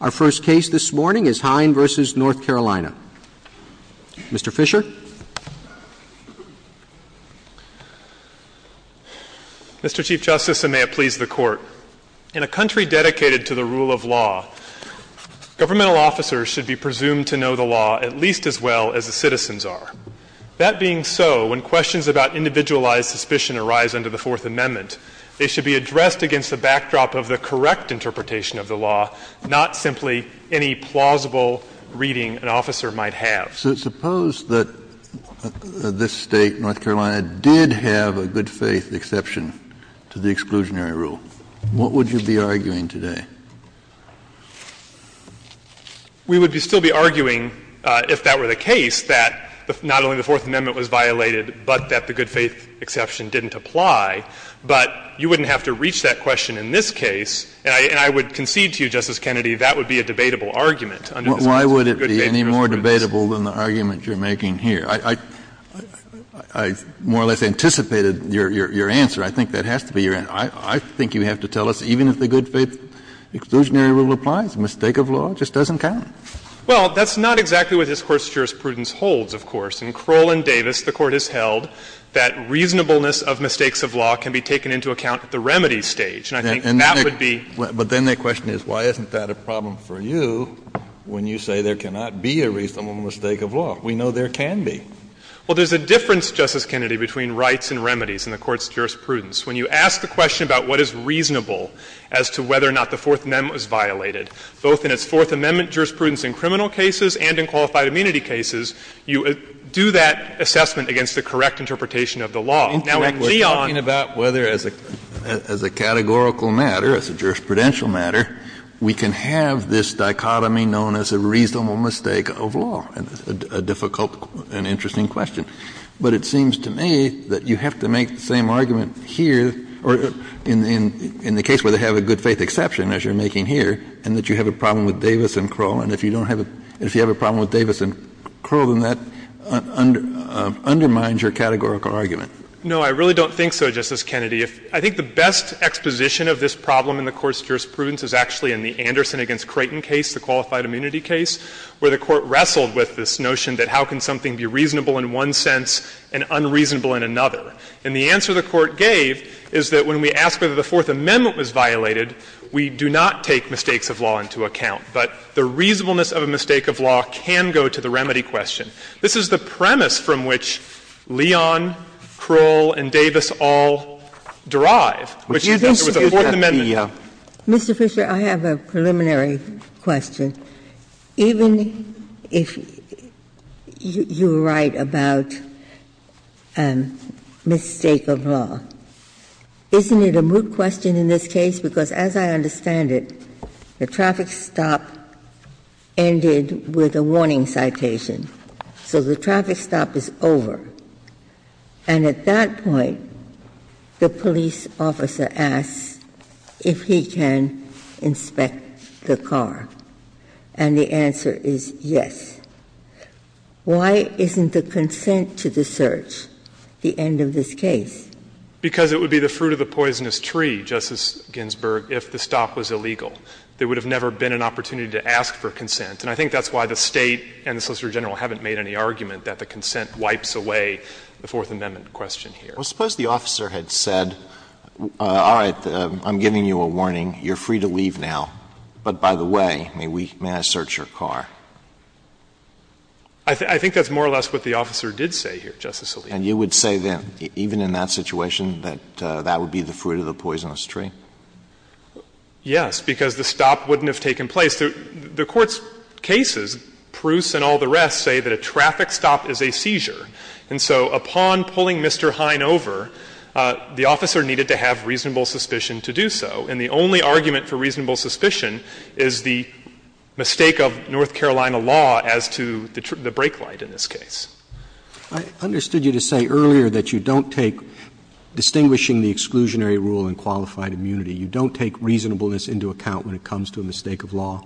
Our first case this morning is Heien v. North Carolina. Mr. Fisher. Mr. Chief Justice, and may it please the Court, in a country dedicated to the rule of law, governmental officers should be presumed to know the law at least as well as the citizens are. That being so, when questions about individualized suspicion arise under the Fourth Amendment, they should be addressed against the backdrop of the correct interpretation of the law, not simply any plausible reading an officer might have. So suppose that this State, North Carolina, did have a good-faith exception to the exclusionary rule. What would you be arguing today? We would still be arguing, if that were the case, that not only the Fourth Amendment was violated, but that the good-faith exception didn't apply. But you wouldn't have to reach that question in this case. And I would concede to you, Justice Kennedy, that would be a debatable argument under this case for good-faith jurisprudence. Why would it be any more debatable than the argument you're making here? I more or less anticipated your answer. I think that has to be your answer. I think you have to tell us, even if the good-faith exclusionary rule applies, a mistake of law just doesn't count. Well, that's not exactly what this Court's jurisprudence holds, of course. In Crowell v. Davis, the Court has held that reasonableness of mistakes of law can be taken into account at the remedy stage. And I think that would be. But then the question is, why isn't that a problem for you when you say there cannot be a reasonable mistake of law? We know there can be. Well, there's a difference, Justice Kennedy, between rights and remedies in the Court's jurisprudence. When you ask the question about what is reasonable as to whether or not the Fourth Amendment was violated, both in its Fourth Amendment jurisprudence in criminal cases and in qualified immunity cases, you do that assessment against the correct interpretation of the law. Now, when we're talking about whether as a categorical matter, as a jurisprudential matter, we can have this dichotomy known as a reasonable mistake of law, a difficult and interesting question. But it seems to me that you have to make the same argument here or in the case where they have a good-faith exception, as you're making here, and that you have a problem with Davis and Krull, and if you don't have a — if you have a problem with Davis and Krull, then that undermines your categorical argument. No, I really don't think so, Justice Kennedy. I think the best exposition of this problem in the Court's jurisprudence is actually in the Anderson v. Creighton case, the qualified immunity case, where the Court wrestled with this notion that how can something be reasonable in one sense and unreasonable in another. And the answer the Court gave is that when we ask whether the Fourth Amendment was violated, we do not take mistakes of law into account. But the reasonableness of a mistake of law can go to the remedy question. This is the premise from which Leon, Krull, and Davis all derive, which is that there was a Fourth Amendment. Ginsburg. Mr. Fisher, I have a preliminary question. Even if you write about mistake of law, isn't it a moot question in this case? Because as I understand it, the traffic stop ended with a warning citation. So the traffic stop is over. And at that point, the police officer asks if he can inspect the car. And the answer is yes. Why isn't the consent to the search the end of this case? Because it would be the fruit of the poisonous tree, Justice Ginsburg, if the stop was illegal. There would have never been an opportunity to ask for consent. And I think that's why the State and the Solicitor General haven't made any argument that the consent wipes away the Fourth Amendment question here. Well, suppose the officer had said, all right, I'm giving you a warning, you're free to leave now. But by the way, may I search your car? I think that's more or less what the officer did say here, Justice Alito. And you would say then, even in that situation, that that would be the fruit of the poisonous tree? Yes, because the stop wouldn't have taken place. The Court's cases, Pruse and all the rest, say that a traffic stop is a seizure. And so upon pulling Mr. Hine over, the officer needed to have reasonable suspicion to do so. And the only argument for reasonable suspicion is the mistake of North Carolina law as to the break light in this case. I understood you to say earlier that you don't take distinguishing the exclusionary rule in qualified immunity. You don't take reasonableness into account when it comes to a mistake of law.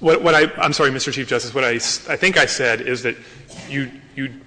What I — I'm sorry, Mr. Chief Justice. What I think I said is that you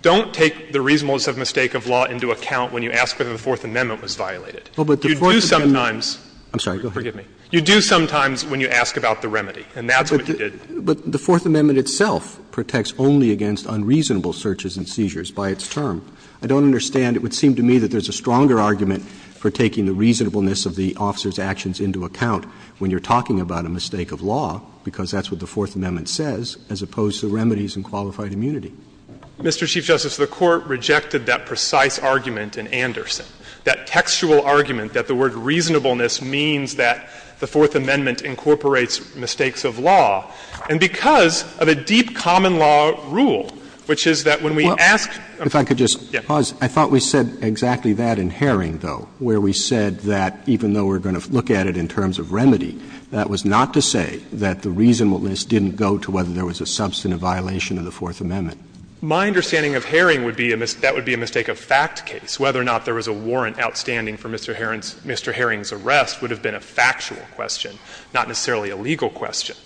don't take the reasonableness of mistake of law into account when you ask whether the Fourth Amendment was violated. You do sometimes. I'm sorry. Go ahead. Forgive me. You do sometimes when you ask about the remedy, and that's what you did. But the Fourth Amendment itself protects only against unreasonable searches and seizures by its term. I don't understand. It would seem to me that there's a stronger argument for taking the reasonableness of the officer's actions into account when you're talking about a mistake of law, because that's what the Fourth Amendment says, as opposed to remedies in qualified immunity. Mr. Chief Justice, the Court rejected that precise argument in Anderson. That textual argument that the word reasonableness means that the Fourth Amendment incorporates mistakes of law, and because of a deep common-law rule, which is that when we ask — Roberts, if I could just pause, I thought we said exactly that in Herring, though, where we said that even though we're going to look at it in terms of remedy, that was not to say that the reasonableness didn't go to whether there was a substantive violation of the Fourth Amendment. My understanding of Herring would be that would be a mistake-of-fact case, whether or not there was a warrant outstanding for Mr. Herring's arrest would have been a factual question, not necessarily a legal question.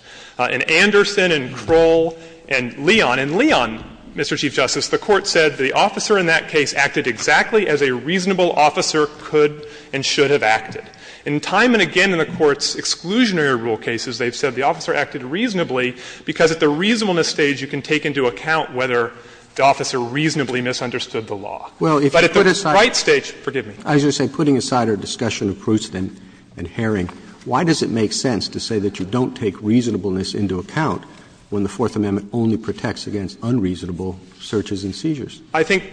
In Anderson and Kroll and Leon, in Leon, Mr. Chief Justice, the Court said the officer in that case acted exactly as a reasonable officer could and should have acted. And time and again in the Court's exclusionary rule cases, they've said the officer acted reasonably because at the reasonableness stage you can take into account whether the officer reasonably misunderstood the law. But at the right stage, forgive me. Roberts, as you say, putting aside our discussion of Proust and Herring, why does it make sense to say that you don't take reasonableness into account when the Fourth Amendment only protects against unreasonable searches and seizures? I think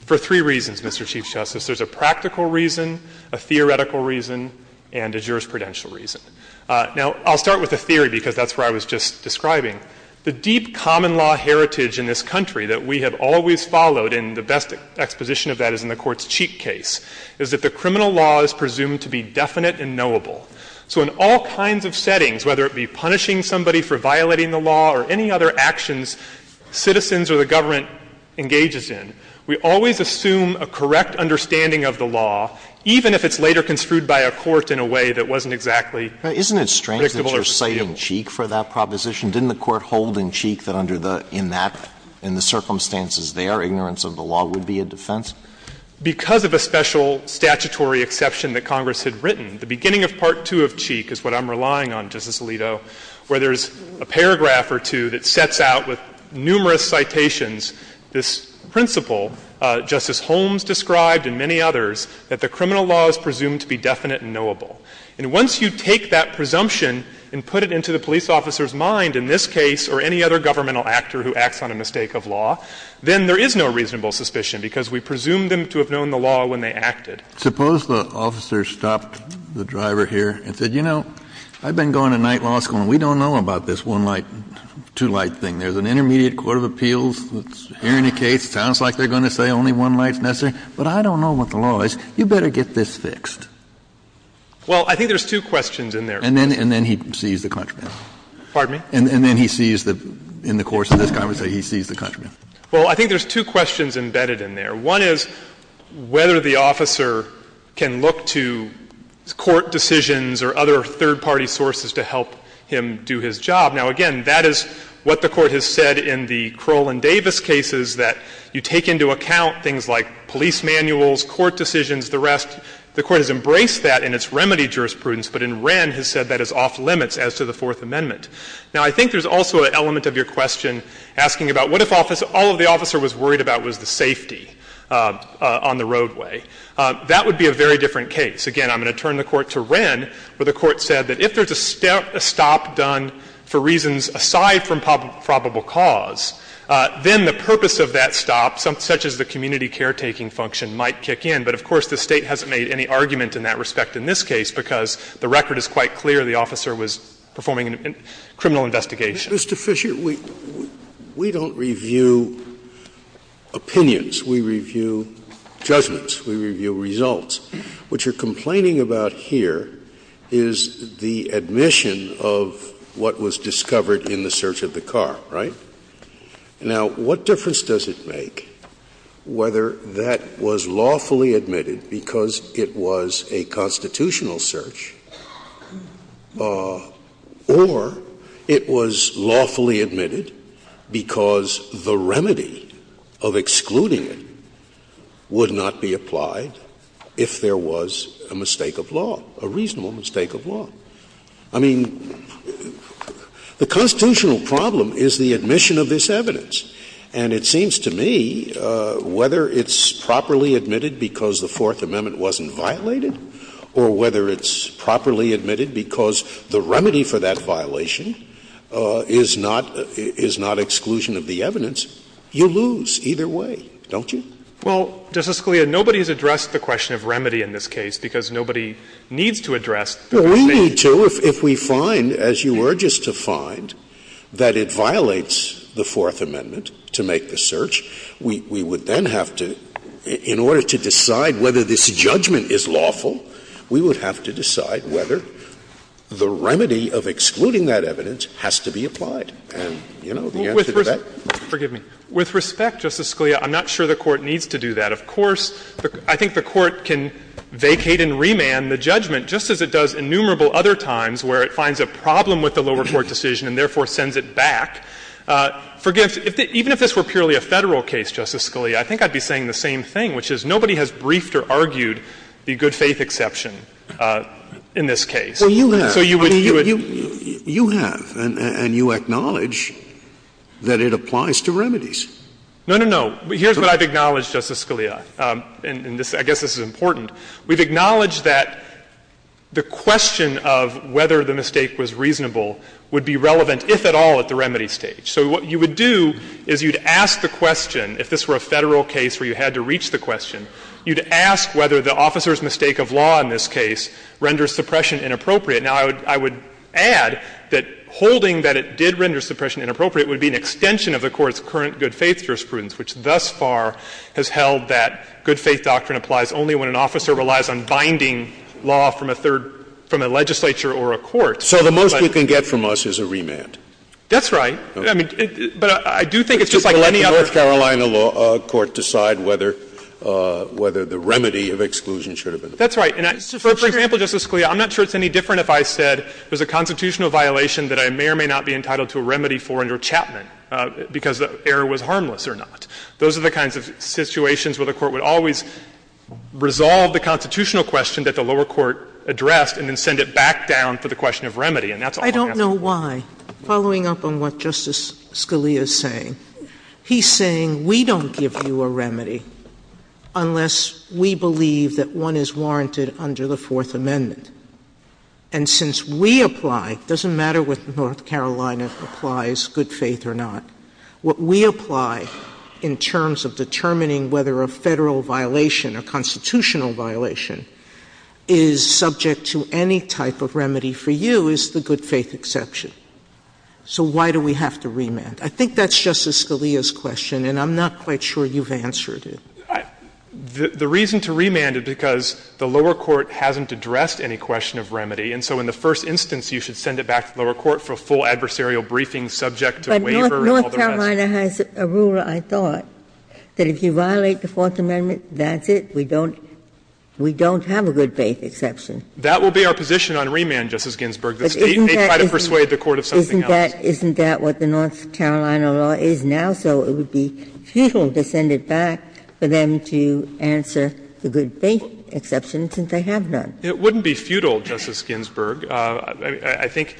for three reasons, Mr. Chief Justice. There's a practical reason, a theoretical reason, and a jurisprudential reason. Now, I'll start with the theory because that's where I was just describing. The deep common law heritage in this country that we have always followed in the best exposition of that is in the Court's Cheek case, is that the criminal law is presumed to be definite and knowable. So in all kinds of settings, whether it be punishing somebody for violating the law or any other actions citizens or the government engages in, we always assume a correct understanding of the law, even if it's later construed by a court in a way that wasn't exactly predictable or predictable. Isn't it strange that you're citing Cheek for that proposition? Didn't the Court hold in Cheek that under the – in that – in the circumstances there, ignorance of the law would be a defense? Because of a special statutory exception that Congress had written, the beginning of Part 2 of Cheek is what I'm relying on, Justice Alito, where there's a paragraph or two that sets out with numerous citations this principle, Justice Holmes described and many others, that the criminal law is presumed to be definite and knowable. And once you take that presumption and put it into the police officer's mind in this other governmental actor who acts on a mistake of law, then there is no reasonable suspicion, because we presume them to have known the law when they acted. Kennedy, Suppose the officer stopped the driver here and said, you know, I've been going to night law school and we don't know about this one light, two light thing. There's an intermediate court of appeals that's hearing the case. It sounds like they're going to say only one light is necessary, but I don't know what the law is. You better get this fixed. Well, I think there's two questions in there. And then he sees the contraband. Pardon me? And then he sees the — in the course of this conversation, he sees the contraband. Well, I think there's two questions embedded in there. One is whether the officer can look to court decisions or other third-party sources to help him do his job. Now, again, that is what the Court has said in the Crowell and Davis cases, that you take into account things like police manuals, court decisions, the rest. The Court has embraced that in its remedy jurisprudence, but in Wren has said that is off limits as to the Fourth Amendment. Now, I think there's also an element of your question asking about what if all of the officer was worried about was the safety on the roadway. That would be a very different case. Again, I'm going to turn the Court to Wren, where the Court said that if there's a stop done for reasons aside from probable cause, then the purpose of that stop, such as the community caretaking function, might kick in. But, of course, the State hasn't made any argument in that respect in this case, because the record is quite clear the officer was performing a criminal investigation. Scalia, Mr. Fisher, we don't review opinions, we review judgments, we review results. What you're complaining about here is the admission of what was discovered in the search of the car, right? Now, what difference does it make whether that was lawfully admitted because it was a constitutional search, or it was lawfully admitted because the remedy of excluding it would not be applied if there was a mistake of law, a reasonable mistake of law? I mean, the constitutional problem is the admission of this evidence, and it seems to me whether it's properly admitted because the Fourth Amendment wasn't violated or whether it's properly admitted because the remedy for that violation is not exclusion of the evidence, you lose either way, don't you? Well, Justice Scalia, nobody has addressed the question of remedy in this case, because nobody needs to address the question of remedy. Well, we need to if we find, as you urge us to find, that it violates the Fourth Amendment, which we would then have to, in order to decide whether this judgment is lawful, we would have to decide whether the remedy of excluding that evidence has to be applied. And, you know, the answer to that is no. With respect, Justice Scalia, I'm not sure the Court needs to do that. Of course, I think the Court can vacate and remand the judgment, just as it does innumerable other times where it finds a problem with the lower court decision and therefore sends it back. Even if this were purely a Federal case, Justice Scalia, I think I'd be saying the same thing, which is nobody has briefed or argued the good-faith exception in this case. So you would do it. Scalia, you have, and you acknowledge that it applies to remedies. No, no, no. Here's what I've acknowledged, Justice Scalia, and I guess this is important. We've acknowledged that the question of whether the mistake was reasonable would be relevant, if at all, at the remedy stage. So what you would do is you'd ask the question, if this were a Federal case where you had to reach the question, you'd ask whether the officer's mistake of law in this case renders suppression inappropriate. Now, I would add that holding that it did render suppression inappropriate would be an extension of the Court's current good-faith jurisprudence, which thus far has held that good-faith doctrine applies only when an officer relies on binding law from a third — from a legislature or a court. So the most you can get from us is a remand. That's right. I mean, but I do think it's just like any other — So letting a North Carolina court decide whether the remedy of exclusion should have been applied. That's right. And I — for example, Justice Scalia, I'm not sure it's any different if I said there's a constitutional violation that I may or may not be entitled to a remedy for under Chapman because the error was harmless or not. Those are the kinds of situations where the Court would always resolve the constitutional question that the lower court addressed and then send it back down for the question of remedy, and that's all I'm asking. I don't know why, following up on what Justice Scalia is saying, he's saying we don't give you a remedy unless we believe that one is warranted under the Fourth Amendment. And since we apply, it doesn't matter what North Carolina applies, good-faith or not. What we apply in terms of determining whether a Federal violation, a constitutional violation, is subject to any type of remedy for you is the good-faith exception. So why do we have to remand? I think that's Justice Scalia's question, and I'm not quite sure you've answered it. The reason to remand it because the lower court hasn't addressed any question of remedy, and so in the first instance, you should send it back to the lower court for a full adversarial briefing subject to waiver and all the rest. Ginsburg-McCarthy North Carolina has a rule, I thought, that if you violate the Fourth Amendment, that's it, we don't have a good-faith exception. That will be our position on remand, Justice Ginsburg. The State may try to persuade the court of something else. Isn't that what the North Carolina law is now? So it would be futile to send it back for them to answer the good-faith exception since they have none. It wouldn't be futile, Justice Ginsburg. I think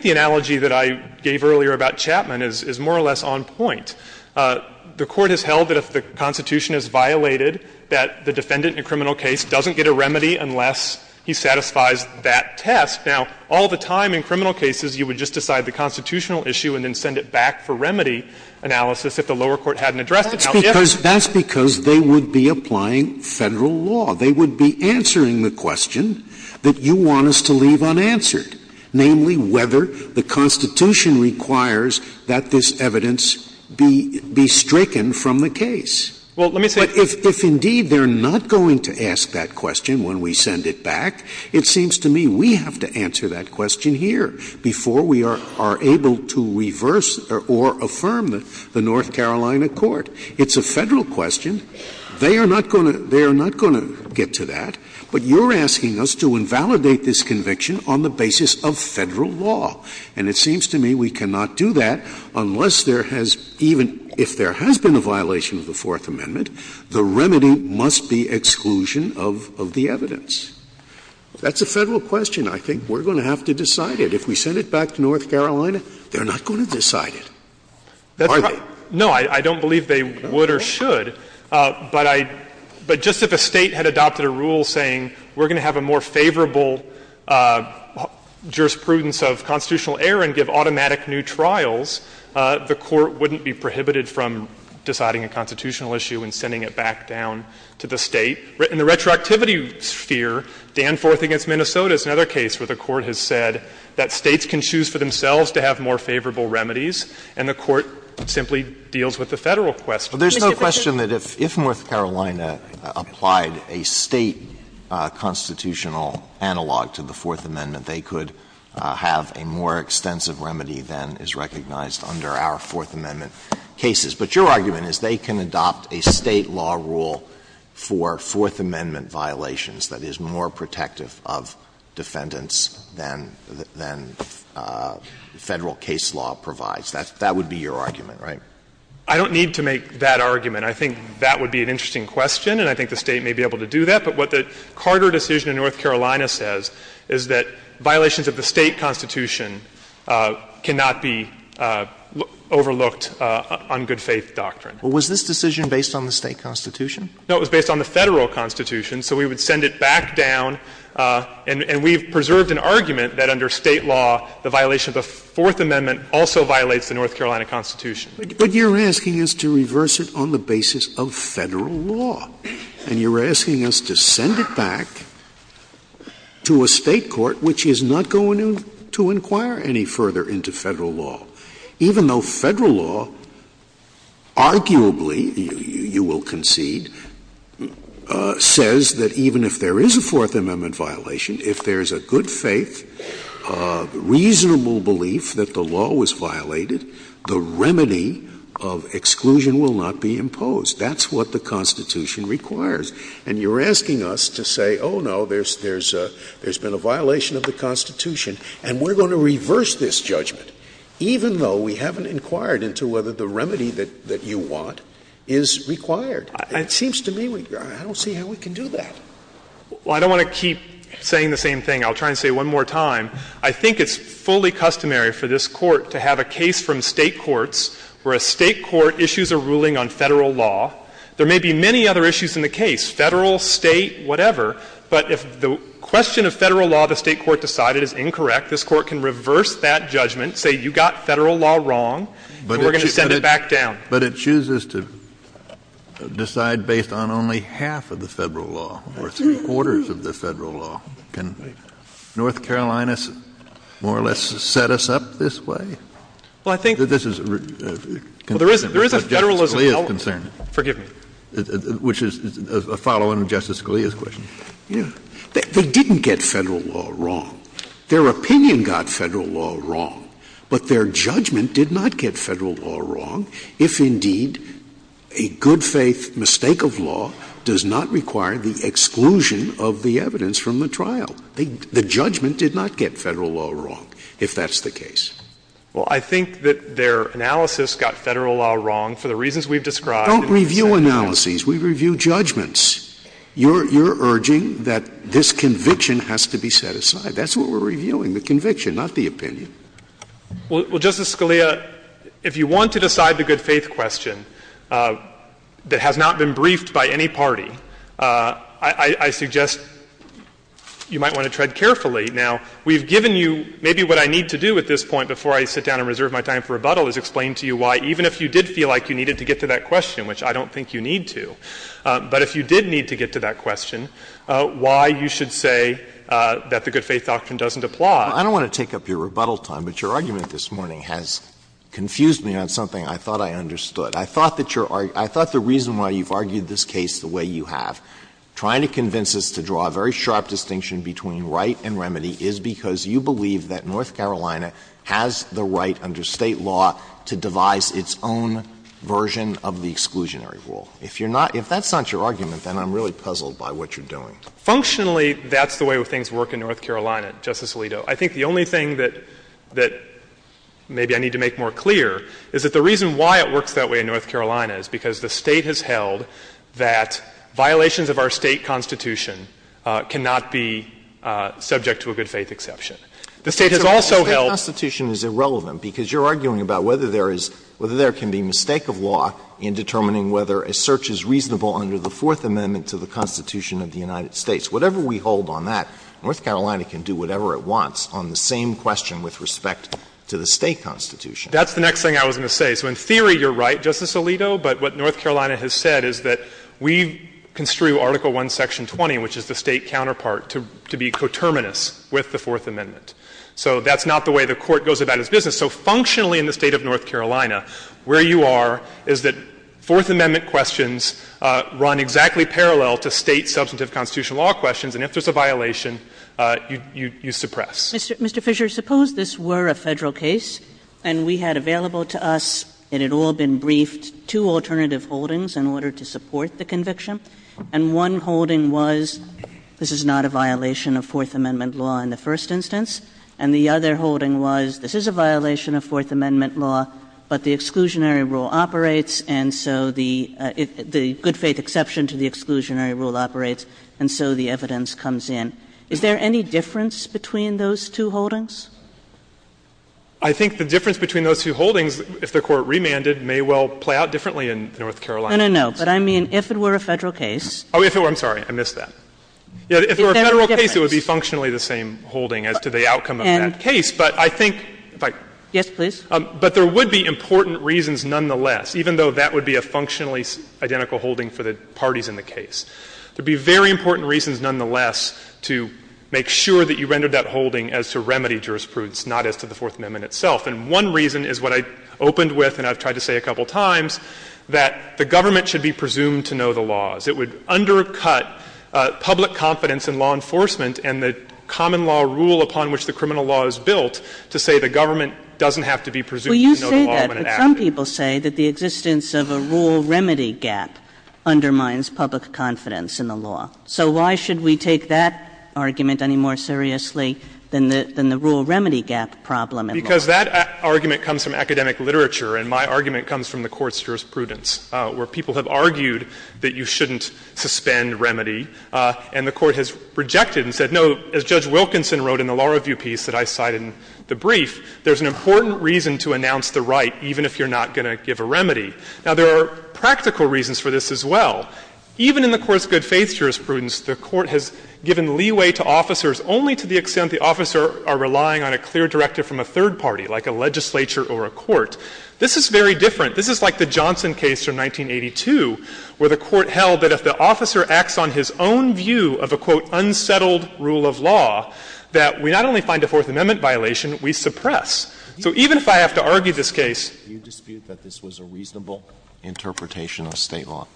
the analogy that I gave earlier about Chapman is more or less on point. The Court has held that if the Constitution is violated, that the defendant in a criminal case doesn't get a remedy unless he satisfies that test. Now, all the time in criminal cases, you would just decide the constitutional issue and then send it back for remedy analysis if the lower court hadn't addressed it. Scalia. That's because they would be applying Federal law. They would be answering the question that you want us to leave unanswered, namely, whether the Constitution requires that this evidence be stricken from the case. But if indeed they're not going to ask that question when we send it back, it seems to me we have to answer that question here before we are able to reverse or affirm the North Carolina court. It's a Federal question. They are not going to get to that, but you're asking us to invalidate this conviction on the basis of Federal law. And it seems to me we cannot do that unless there has even — if there has been a violation of the Fourth Amendment, the remedy must be exclusion of the evidence. That's a Federal question. I think we're going to have to decide it. If we send it back to North Carolina, they're not going to decide it, are they? No, I don't believe they would or should. But I — but just if a State had adopted a rule saying, we're going to have a more favorable jurisprudence of constitutional error and give automatic new trials, the Court wouldn't be prohibited from deciding a constitutional issue and sending it back down to the State. In the retroactivity sphere, Danforth v. Minnesota is another case where the Court has said that States can choose for themselves to have more favorable remedies, and the Court simply deals with the Federal question. Mr. Fisher? Alito, there's no question that if North Carolina applied a State constitutional analog to the Fourth Amendment, they could have a more extensive remedy than is recognized under our Fourth Amendment cases. But your argument is they can adopt a State law rule for Fourth Amendment violations that is more protective of defendants than Federal case law provides. That would be your argument, right? I don't need to make that argument. I think that would be an interesting question, and I think the State may be able to do that. But what the Carter decision in North Carolina says is that violations of the State constitution cannot be overlooked on good faith doctrine. Well, was this decision based on the State constitution? No, it was based on the Federal constitution. So we would send it back down, and we've preserved an argument that under State law, the violation of the Fourth Amendment also violates the North Carolina constitution. But you're asking us to reverse it on the basis of Federal law, and you're asking us to send it back to a State court which is not going to inquire any further into Federal law, even though Federal law, arguably, you will concede, says that even if there is a Fourth Amendment violation, if there is a good faith, if there is a reasonable belief that the law was violated, the remedy of exclusion will not be imposed. That's what the Constitution requires. And you're asking us to say, oh, no, there's been a violation of the Constitution, and we're going to reverse this judgment, even though we haven't inquired into whether the remedy that you want is required. It seems to me we don't see how we can do that. Well, I don't want to keep saying the same thing. I'll try and say it one more time. I think it's fully customary for this Court to have a case from State courts where a State court issues a ruling on Federal law. There may be many other issues in the case, Federal, State, whatever, but if the question of Federal law the State court decided is incorrect, this Court can reverse that judgment, say you got Federal law wrong, and we're going to send it back down. But it chooses to decide based on only half of the Federal law, or three-quarters of the Federal law. Can North Carolina more or less set us up this way? Well, I think This is Well, there is a Federalism element Justice Scalia's concern Forgive me Which is a follow-on to Justice Scalia's question. Yeah. They didn't get Federal law wrong. Their opinion got Federal law wrong, but their judgment did not get Federal law wrong if indeed a good-faith mistake of law does not require the exclusion of the evidence from the trial. The judgment did not get Federal law wrong, if that's the case. Well, I think that their analysis got Federal law wrong for the reasons we've described in the second case. Don't review analyses. We review judgments. You're urging that this conviction has to be set aside. That's what we're reviewing, the conviction, not the opinion. Well, Justice Scalia, if you want to decide the good-faith question that has not been you might want to tread carefully. Now, we've given you maybe what I need to do at this point before I sit down and reserve my time for rebuttal is explain to you why, even if you did feel like you needed to get to that question, which I don't think you need to, but if you did need to get to that question, why you should say that the good-faith doctrine doesn't apply. I don't want to take up your rebuttal time, but your argument this morning has confused me on something I thought I understood. I thought that your argued the reason why you've argued this case the way you have, trying to convince us to draw a very sharp distinction between right and remedy is because you believe that North Carolina has the right under State law to devise its own version of the exclusionary rule. If you're not — if that's not your argument, then I'm really puzzled by what you're doing. Functionally, that's the way things work in North Carolina, Justice Alito. I think the only thing that — that maybe I need to make more clear is that the reason why it works that way in North Carolina is because the State has held that violations of our State constitution cannot be subject to a good-faith exception. The State has also held — Alito, the State constitution is irrelevant, because you're arguing about whether there is — whether there can be mistake of law in determining whether a search is reasonable under the Fourth Amendment to the Constitution of the United States. Whatever we hold on that, North Carolina can do whatever it wants on the same question with respect to the State constitution. That's the next thing I was going to say. So in theory, you're right, Justice Alito. But what North Carolina has said is that we construe Article I, Section 20, which is the State counterpart, to be coterminous with the Fourth Amendment. So that's not the way the Court goes about its business. So functionally in the State of North Carolina, where you are is that Fourth Amendment questions run exactly parallel to State substantive constitutional law questions, and if there's a violation, you suppress. Kagan. Mr. Fischer, suppose this were a Federal case and we had available to us, it had all been briefed, two alternative holdings in order to support the conviction, and one holding was this is not a violation of Fourth Amendment law in the first instance, and the other holding was this is a violation of Fourth Amendment law, but the exclusionary rule operates, and so the good-faith exception to the exclusionary rule operates, and so the evidence comes in. Is there any difference between those two holdings? Fisher. I think the difference between those two holdings, if the Court remanded, may well play out differently in North Carolina. Kagan. No, no, no. But I mean, if it were a Federal case. Fisher. I'm sorry. I missed that. Kagan. Is there a difference? Fisher. If it were a Federal case, it would be functionally the same holding as to the outcome of that case. But I think, if I could. Kagan. Yes, please. Fisher. But there would be important reasons nonetheless, even though that would be a functionally identical holding for the parties in the case. There would be very important reasons nonetheless to make sure that you rendered that holding as to remedy jurisprudence, not as to the Fourth Amendment itself. And one reason is what I opened with and I've tried to say a couple of times, that the government should be presumed to know the laws. It would undercut public confidence in law enforcement and the common law rule upon which the criminal law is built to say the government doesn't have to be presumed to know the law when it acted. Kagan. Well, you say that, but some people say that the existence of a rule remedy gap undermines public confidence in the law. So why should we take that argument any more seriously than the rule remedy gap problem in law? Because that argument comes from academic literature, and my argument comes from the Court's jurisprudence, where people have argued that you shouldn't suspend remedy, and the Court has rejected and said, no, as Judge Wilkinson wrote in the law review piece that I cited in the brief, there's an important reason to announce the right even if you're not going to give a remedy. Now, there are practical reasons for this as well. Even in the Court's good faith jurisprudence, the Court has given leeway to officers only to the extent the officers are relying on a clear directive from a third party, like a legislature or a court. This is very different. This is like the Johnson case from 1982, where the Court held that if the officer acts on his own view of a, quote, unsettled rule of law, that we not only find a Fourth Amendment violation, we suppress. So even if I have to argue this case. Alito, do you dispute that this was a reasonable interpretation of State law?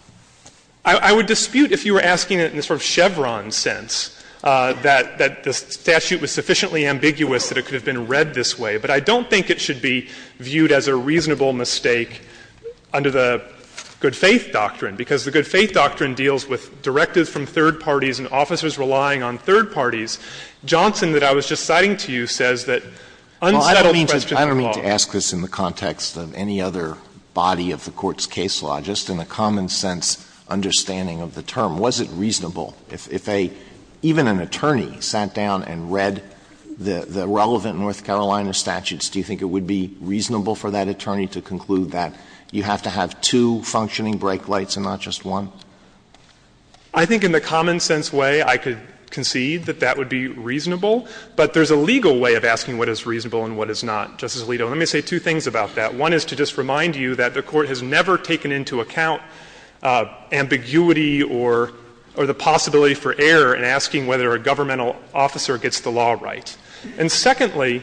I would dispute if you were asking it in a sort of Chevron sense, that the statute was sufficiently ambiguous that it could have been read this way. But I don't think it should be viewed as a reasonable mistake under the good faith doctrine, because the good faith doctrine deals with directives from third parties and officers relying on third parties. Johnson, that I was just citing to you, says that unsettled question of law. Alito, I don't mean to ask this in the context of any other body of the Court's case law, just in a common sense understanding of the term. Was it reasonable if a, even an attorney sat down and read the relevant North Carolina statutes, do you think it would be reasonable for that attorney to conclude that you have to have two functioning brake lights and not just one? I think in the common sense way, I could concede that that would be reasonable. But there's a legal way of asking what is reasonable and what is not. Justice Alito, let me say two things about that. One is to just remind you that the Court has never taken into account ambiguity or the possibility for error in asking whether a governmental officer gets the law right. And secondly,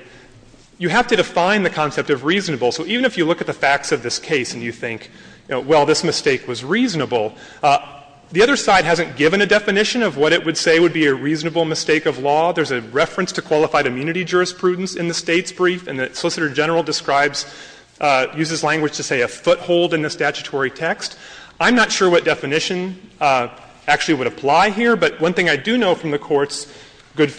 you have to define the concept of reasonable. So even if you look at the facts of this case and you think, well, this mistake was reasonable, the other side hasn't given a definition of what it would say would be a reasonable mistake of law. There's a reference to qualified immunity jurisprudence in the State's brief and that Solicitor General describes, uses language to say a foothold in the statutory text. I'm not sure what definition actually would apply here. But one thing I do know from the Court's good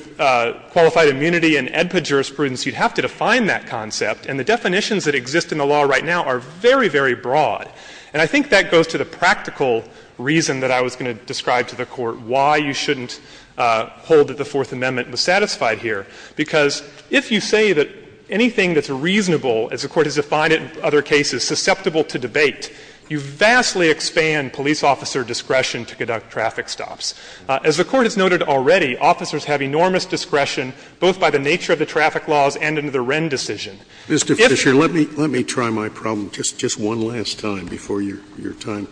qualified immunity and AEDPA jurisprudence, you'd have to define that concept. And the definitions that exist in the law right now are very, very broad. And I think that goes to the practical reason that I was going to describe to the Court why you shouldn't hold that the Fourth Amendment was satisfied here, because if you say that anything that's reasonable, as the Court has defined it in other cases, susceptible to debate, you vastly expand police officer discretion to conduct traffic stops. As the Court has noted already, officers have enormous discretion both by the nature of the traffic laws and under the Wren decision. Scalia. Mr. Fisher, let me try my problem just one last time before your time.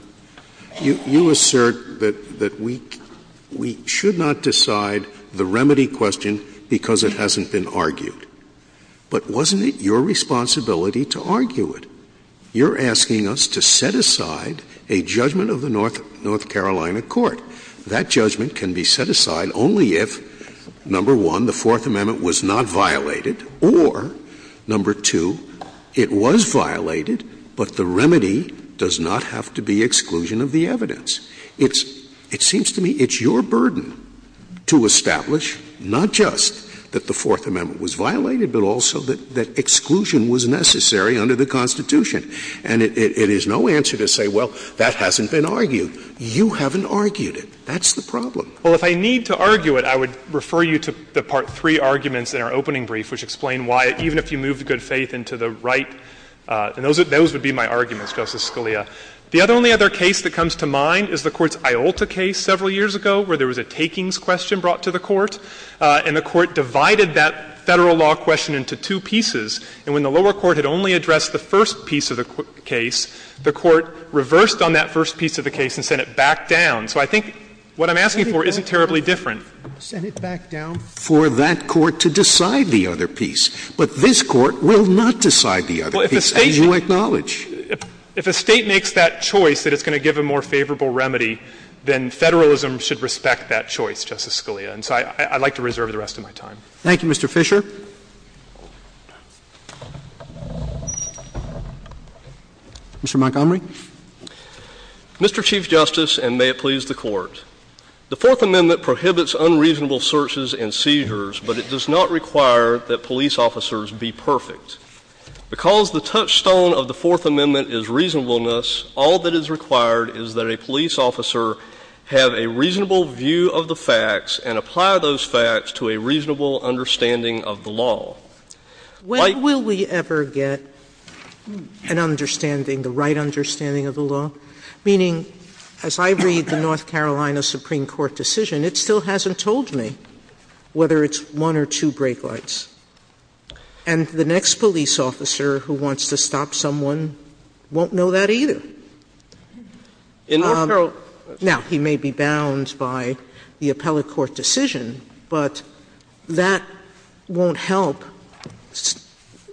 You assert that we should not decide the remedy question because it hasn't been argued. But wasn't it your responsibility to argue it? You're asking us to set aside a judgment of the North Carolina court. That judgment can be set aside only if, number one, the Fourth Amendment was not violated or, number two, it was violated, but the remedy does not have to be exclusion of the evidence. It's — it seems to me it's your burden to establish not just that the Fourth Amendment was violated, but also that exclusion was necessary under the Constitution. And it is no answer to say, well, that hasn't been argued. You haven't argued it. That's the problem. Fisher. Well, if I need to argue it, I would refer you to the part three arguments in our opening brief, which explain why, even if you move the good faith into the right — and those would be my arguments, Justice Scalia. The only other case that comes to mind is the Court's Iolta case several years ago, where there was a takings question brought to the Court, and the Court divided that Federal law question into two pieces. And when the lower court had only addressed the first piece of the case, the Court reversed on that first piece of the case and sent it back down. So I think what I'm asking for isn't terribly different. Sent it back down for that Court to decide the other piece. But this Court will not decide the other piece, as you acknowledge. If a State makes that choice, that it's going to give a more favorable remedy, then Federalism should respect that choice, Justice Scalia. And so I'd like to reserve the rest of my time. Thank you, Mr. Fisher. Mr. Montgomery. Mr. Chief Justice, and may it please the Court. The Fourth Amendment prohibits unreasonable searches and seizures, but it does not require that police officers be perfect. Because the touchstone of the Fourth Amendment is reasonableness, all that is required is that a police officer have a reasonable view of the facts and apply those facts to a reasonable understanding of the law. When will we ever get an understanding, the right understanding of the law? Meaning, as I read the North Carolina Supreme Court decision, it still hasn't told me whether it's one or two brake lights. And the next police officer who wants to stop someone won't know that either. Now, he may be bound by the appellate court decision, but that won't help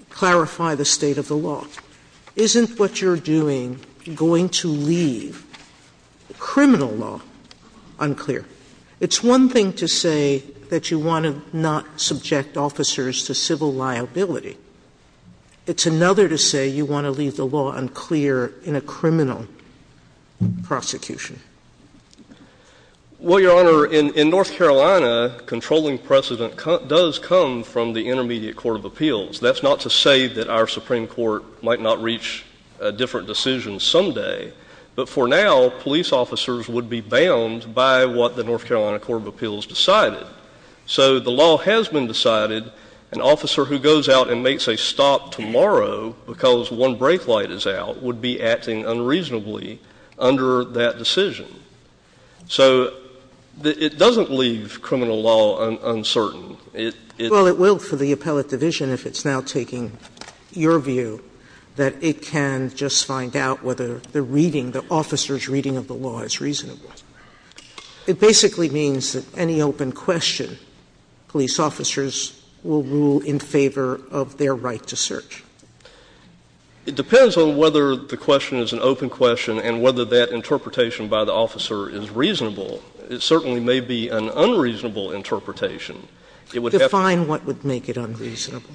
clarify the state of the law. Isn't what you're doing going to leave criminal law unclear? It's one thing to say that you want to not subject officers to civil liability. It's another to say you want to leave the law unclear in a criminal prosecution. Well, Your Honor, in North Carolina, controlling precedent does come from the Intermediate Court of Appeals. That's not to say that our Supreme Court might not reach a different decision someday. But for now, police officers would be bound by what the North Carolina Court of Appeals decided. So the law has been decided, an officer who goes out and makes a stop tomorrow because one brake light is out would be acting unreasonably under that decision. So it doesn't leave criminal law uncertain. Well, it will for the appellate division if it's now taking your view, that it can just find out whether the reading, the officer's reading of the law is reasonable. It basically means that any open question, police officers will rule in favor of their right to search. It depends on whether the question is an open question and whether that interpretation by the officer is reasonable. It certainly may be an unreasonable interpretation. It would have to be. Define what would make it unreasonable.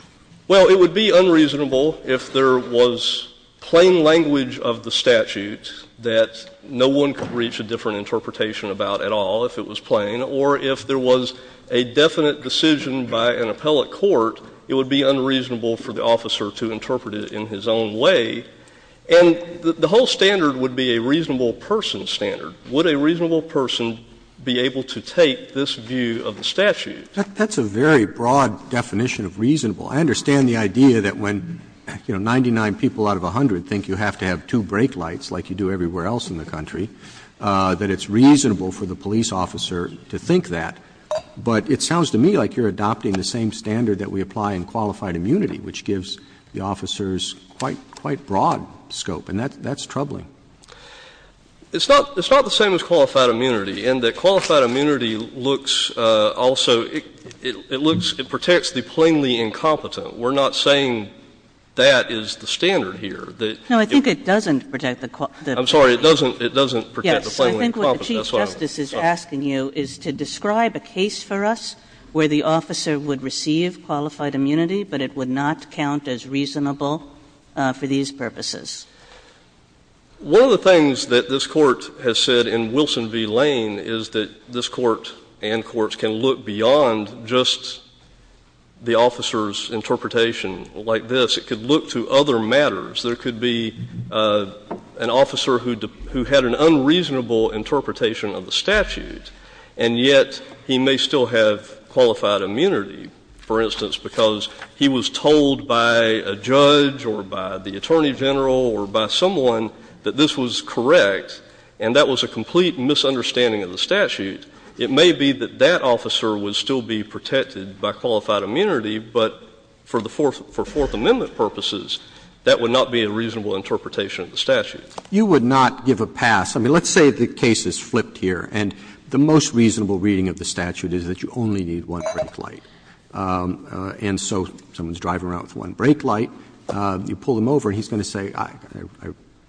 Well, it would be unreasonable if there was plain language of the statute that no one could reach a different interpretation about at all if it was plain, or if there was a definite decision by an appellate court, it would be unreasonable for the officer to interpret it in his own way. And the whole standard would be a reasonable person standard. Would a reasonable person be able to take this view of the statute? That's a very broad definition of reasonable. I understand the idea that when, you know, 99 people out of 100 think you have to have two brake lights like you do everywhere else in the country, that it's reasonable for the police officer to think that. But it sounds to me like you're adopting the same standard that we apply in qualified immunity, which gives the officers quite broad scope, and that's troubling. It's not the same as qualified immunity, in that qualified immunity looks also – it looks – it protects the plainly incompetent. We're not saying that is the standard here. No, I think it doesn't protect the – I'm sorry. It doesn't protect the plainly incompetent. Yes. I think what the Chief Justice is asking you is to describe a case for us where the officer would receive qualified immunity, but it would not count as reasonable for these purposes. One of the things that this Court has said in Wilson v. Lane is that this Court and courts can look beyond just the officer's interpretation like this. It could look to other matters. There could be an officer who had an unreasonable interpretation of the statute, and yet he may still have qualified immunity, for instance, because he was told by a by someone that this was correct, and that was a complete misunderstanding of the statute. It may be that that officer would still be protected by qualified immunity, but for the Fourth – for Fourth Amendment purposes, that would not be a reasonable interpretation of the statute. You would not give a pass. I mean, let's say the case is flipped here, and the most reasonable reading of the statute is that you only need one brake light. And so someone's driving around with one brake light. You pull them over, and he's going to say, I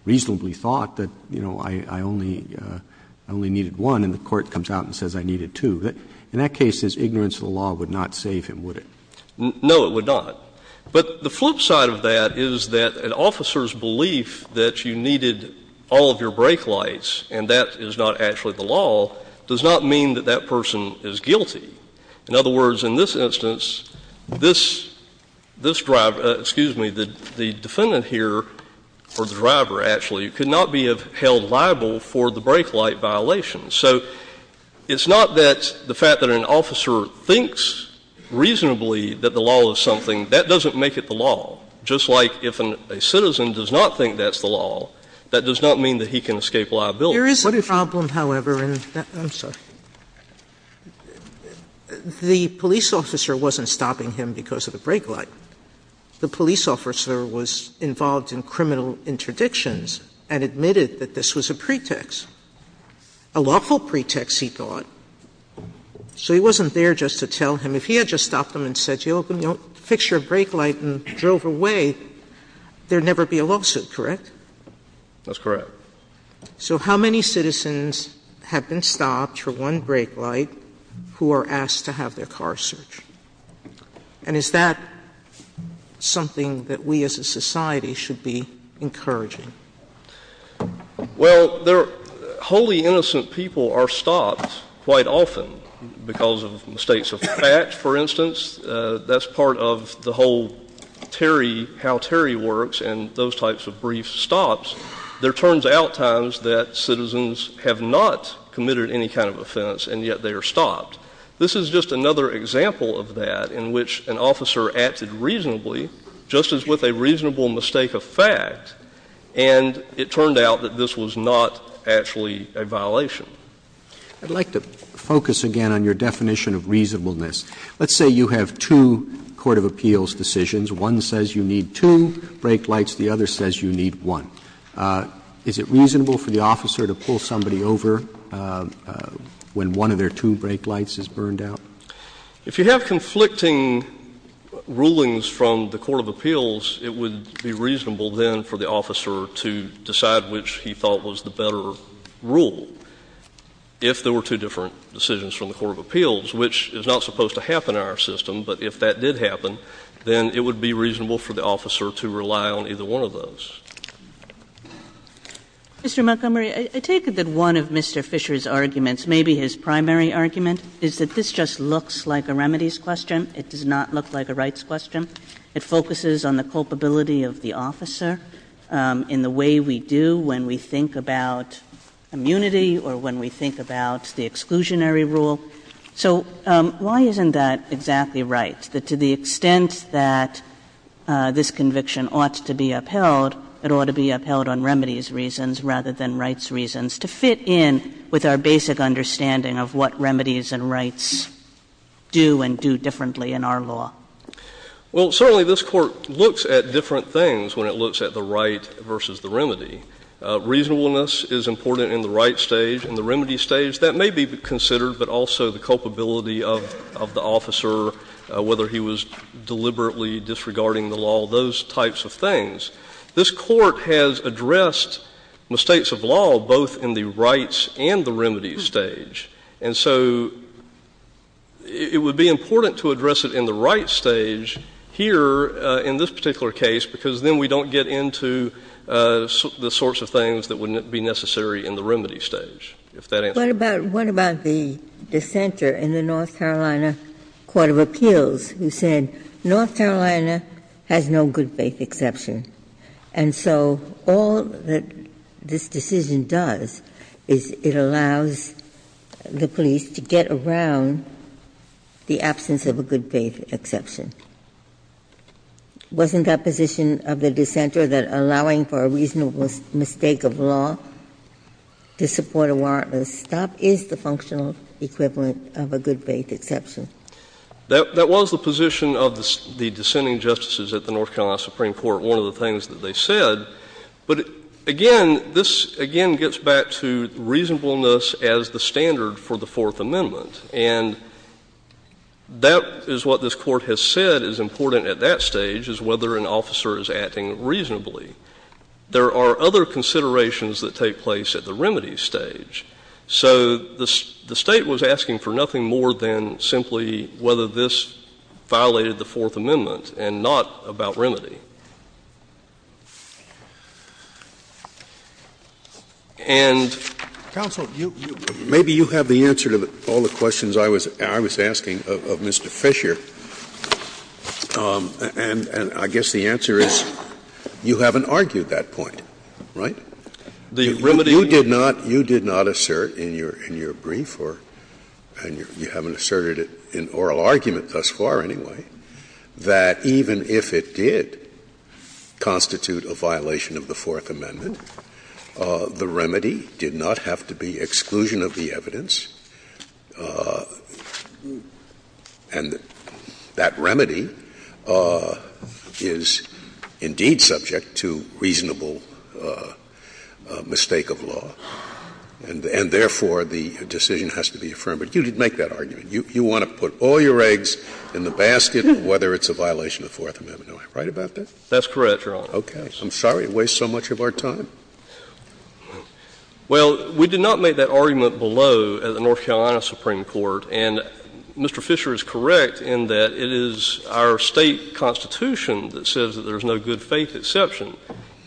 reasonably thought that, you know, I only needed one, and the court comes out and says I needed two. In that case, his ignorance of the law would not save him, would it? No, it would not. But the flip side of that is that an officer's belief that you needed all of your brake lights and that is not actually the law does not mean that that person is guilty. In other words, in this instance, this – this driver – excuse me, the defendant here, or the driver, actually, could not be held liable for the brake light violation. So it's not that the fact that an officer thinks reasonably that the law is something, that doesn't make it the law. Just like if a citizen does not think that's the law, that does not mean that he can escape liability. What if you – Sotomayor, I'm sorry. The police officer wasn't stopping him because of the brake light. The police officer was involved in criminal interdictions and admitted that this was a pretext, a lawful pretext, he thought. So he wasn't there just to tell him. If he had just stopped him and said, you know, fix your brake light, and drove away, there would never be a lawsuit, correct? That's correct. Sotomayor, so how many citizens have been stopped for one brake light who are asked to have their car searched? And is that something that we as a society should be encouraging? Well, there – wholly innocent people are stopped quite often because of mistakes of fact, for instance. That's part of the whole Terry – how Terry works and those types of brief stops. There turns out times that citizens have not committed any kind of offense and yet they are stopped. This is just another example of that in which an officer acted reasonably, just as with a reasonable mistake of fact, and it turned out that this was not actually a violation. I'd like to focus again on your definition of reasonableness. Let's say you have two court of appeals decisions. One says you need two brake lights. The other says you need one. Is it reasonable for the officer to pull somebody over when one of their two brake lights is burned out? If you have conflicting rulings from the court of appeals, it would be reasonable then for the officer to decide which he thought was the better rule. If there were two different decisions from the court of appeals, which is not supposed to happen in our system, but if that did happen, then it would be reasonable for the officer to rely on either one of those. Ms. Kagan. Mr. Montgomery, I take it that one of Mr. Fisher's arguments, maybe his primary argument, is that this just looks like a remedies question. It does not look like a rights question. It focuses on the culpability of the officer in the way we do when we think about immunity or when we think about the exclusionary rule. So why isn't that exactly right, that to the extent that this conviction ought to be upheld, it ought to be upheld on remedies reasons rather than rights reasons, to fit in with our basic understanding of what remedies and rights do and do differently in our law? Well, certainly this Court looks at different things when it looks at the right versus the remedy. Reasonableness is important in the right stage. In the remedy stage, that may be considered, but also the culpability of the officer, whether he was deliberately disregarding the law, those types of things. This Court has addressed mistakes of law both in the rights and the remedy stage. And so it would be important to address it in the right stage here in this particular case, because then we don't get into the sorts of things that would be necessary in the remedy stage, if that answers your question. What about the dissenter in the North Carolina Court of Appeals who said North Carolina has no good faith exception? And so all that this decision does is it allows the police to get around the absence of a good faith exception. Wasn't that position of the dissenter, that allowing for a reasonable mistake of law to support a warrantless stop is the functional equivalent of a good faith exception? That was the position of the dissenting justices at the North Carolina Supreme Court, one of the things that they said. But again, this again gets back to reasonableness as the standard for the Fourth Amendment. And that is what this Court has said is important at that stage, is whether an officer is acting reasonably. There are other considerations that take place at the remedy stage. So the State was asking for nothing more than simply whether this violated the Fourth Amendment, and that was the remedy. And the remedy is the remedy. And counsel, you — maybe you have the answer to all the questions I was asking of Mr. Fisher. And I guess the answer is you haven't argued that point, right? You did not assert in your brief or — and you haven't asserted it in oral argument thus far, anyway, that even if it did constitute a violation of the Fourth Amendment, the remedy did not have to be exclusion of the evidence, and that remedy is indeed subject to reasonable mistake of law, and therefore, the decision has to be affirmed. You want to put all your eggs in the basket of whether it's a violation of the Fourth Amendment, am I right about that? That's correct, Your Honor. Okay. I'm sorry to waste so much of our time. Well, we did not make that argument below at the North Carolina Supreme Court. And Mr. Fisher is correct in that it is our State constitution that says that there is no good-faith exception.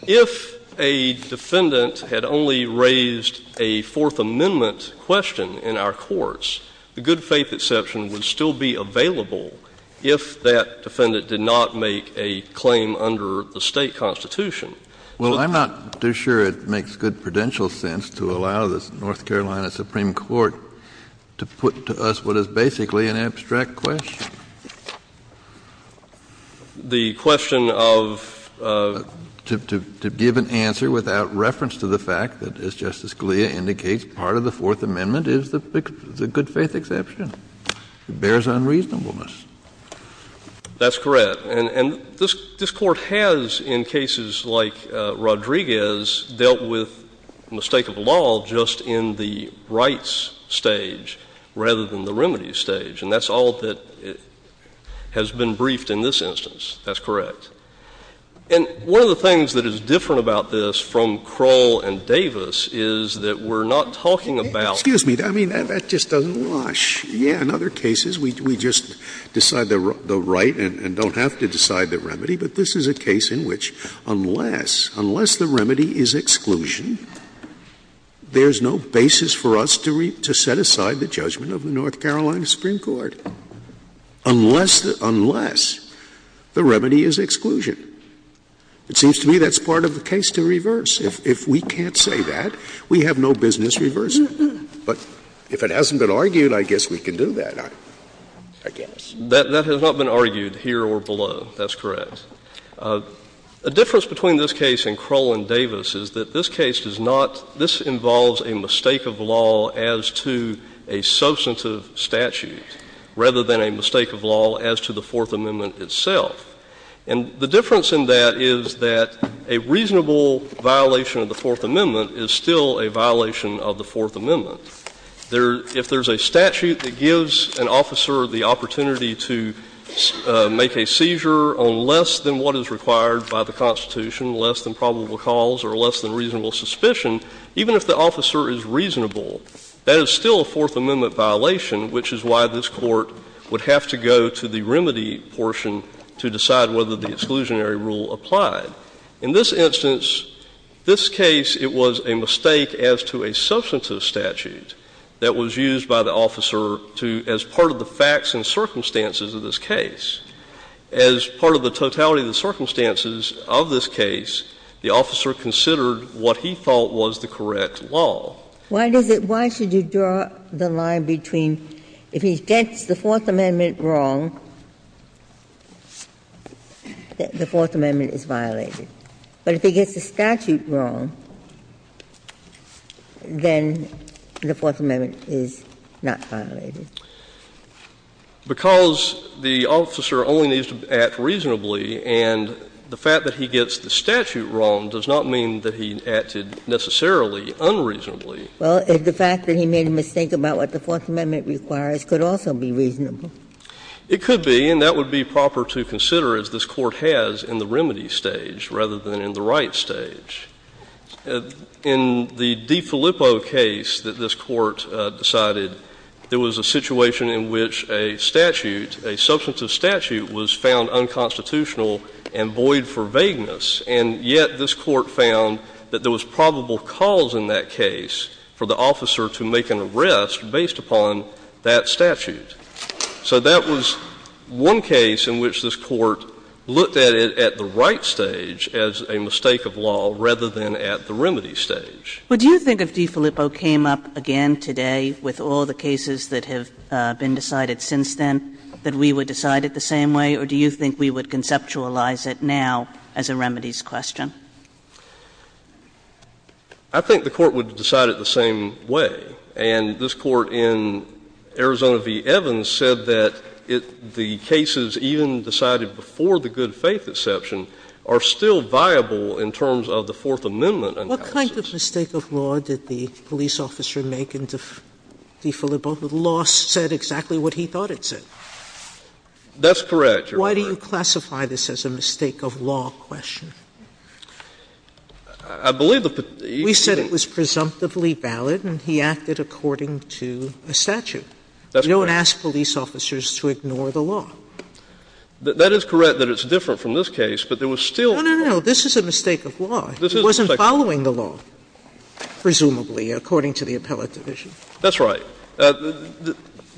If a defendant had only raised a Fourth Amendment question in our courts, the good-faith exception would still be available if that defendant did not make a claim under the State constitution. Well, I'm not too sure it makes good prudential sense to allow the North Carolina Supreme Court to put to us what is basically an abstract question. The question of — To give an answer without reference to the fact that, as Justice Scalia indicates, part of the Fourth Amendment is the good-faith exception. It bears unreasonableness. That's correct. And this Court has, in cases like Rodriguez, dealt with the mistake of law just in the rights stage rather than the remedies stage. And that's all that has been briefed in this instance. That's correct. And one of the things that is different about this from Kroll and Davis is that we're not talking about — Excuse me. I mean, that just doesn't wash. Yes, in other cases, we just decide the right and don't have to decide the remedy. But this is a case in which unless, unless the remedy is exclusion, there is no basis for us to set aside the judgment of the North Carolina Supreme Court, unless the remedy is exclusion. It seems to me that's part of the case to reverse. If we can't say that, we have no business reversing. But if it hasn't been argued, I guess we can do that, I guess. That has not been argued here or below. That's correct. A difference between this case and Kroll and Davis is that this case does not — this involves a mistake of law as to a substantive statute rather than a mistake of law as to the Fourth Amendment itself. And the difference in that is that a reasonable violation of the Fourth Amendment is still a violation of the Fourth Amendment. There — if there's a statute that gives an officer the opportunity to make a seizure on less than what is required by the Constitution, less than probable cause or less than reasonable suspicion, even if the officer is reasonable, that is still a Fourth Amendment violation, which is why this Court would have to go to the remedy portion to decide whether the exclusionary rule applied. In this instance, this case, it was a mistake as to a substantive statute that was used by the officer to — as part of the facts and circumstances of this case. As part of the totality of the circumstances of this case, the officer considered what he thought was the correct law. Ginsburg. Why does it — why should you draw the line between if he gets the Fourth Amendment wrong, the Fourth Amendment is violated, but if he gets the statute wrong, then the Fourth Amendment is not violated? Because the officer only needs to act reasonably, and the fact that he gets the statute wrong does not mean that he acted necessarily unreasonably. Well, the fact that he made a mistake about what the Fourth Amendment requires could also be reasonable. It could be, and that would be proper to consider, as this Court has, in the remedy stage rather than in the right stage. In the DiFilippo case that this Court decided, there was a situation in which a statute — a substantive statute was found unconstitutional and void for vagueness, and yet this Court found that there was probable cause in that case for the officer to make an arrest based upon that statute. So that was one case in which this Court looked at it at the right stage as a mistake of law rather than at the remedy stage. Would you think if DiFilippo came up again today with all the cases that have been decided since then that we would decide it the same way, or do you think we would do it the same way? I think the Court would decide it the same way. And this Court in Arizona v. Evans said that it — the cases even decided before the good-faith exception are still viable in terms of the Fourth Amendment analysis. What kind of mistake of law did the police officer make in DiFilippo? The law said exactly what he thought it said. That's correct, Your Honor. Why do you classify this as a mistake of law question? I believe the — We said it was presumptively valid and he acted according to a statute. That's right. We don't ask police officers to ignore the law. That is correct that it's different from this case, but there was still — No, no, no. This is a mistake of law. It wasn't following the law, presumably, according to the appellate division. That's right. The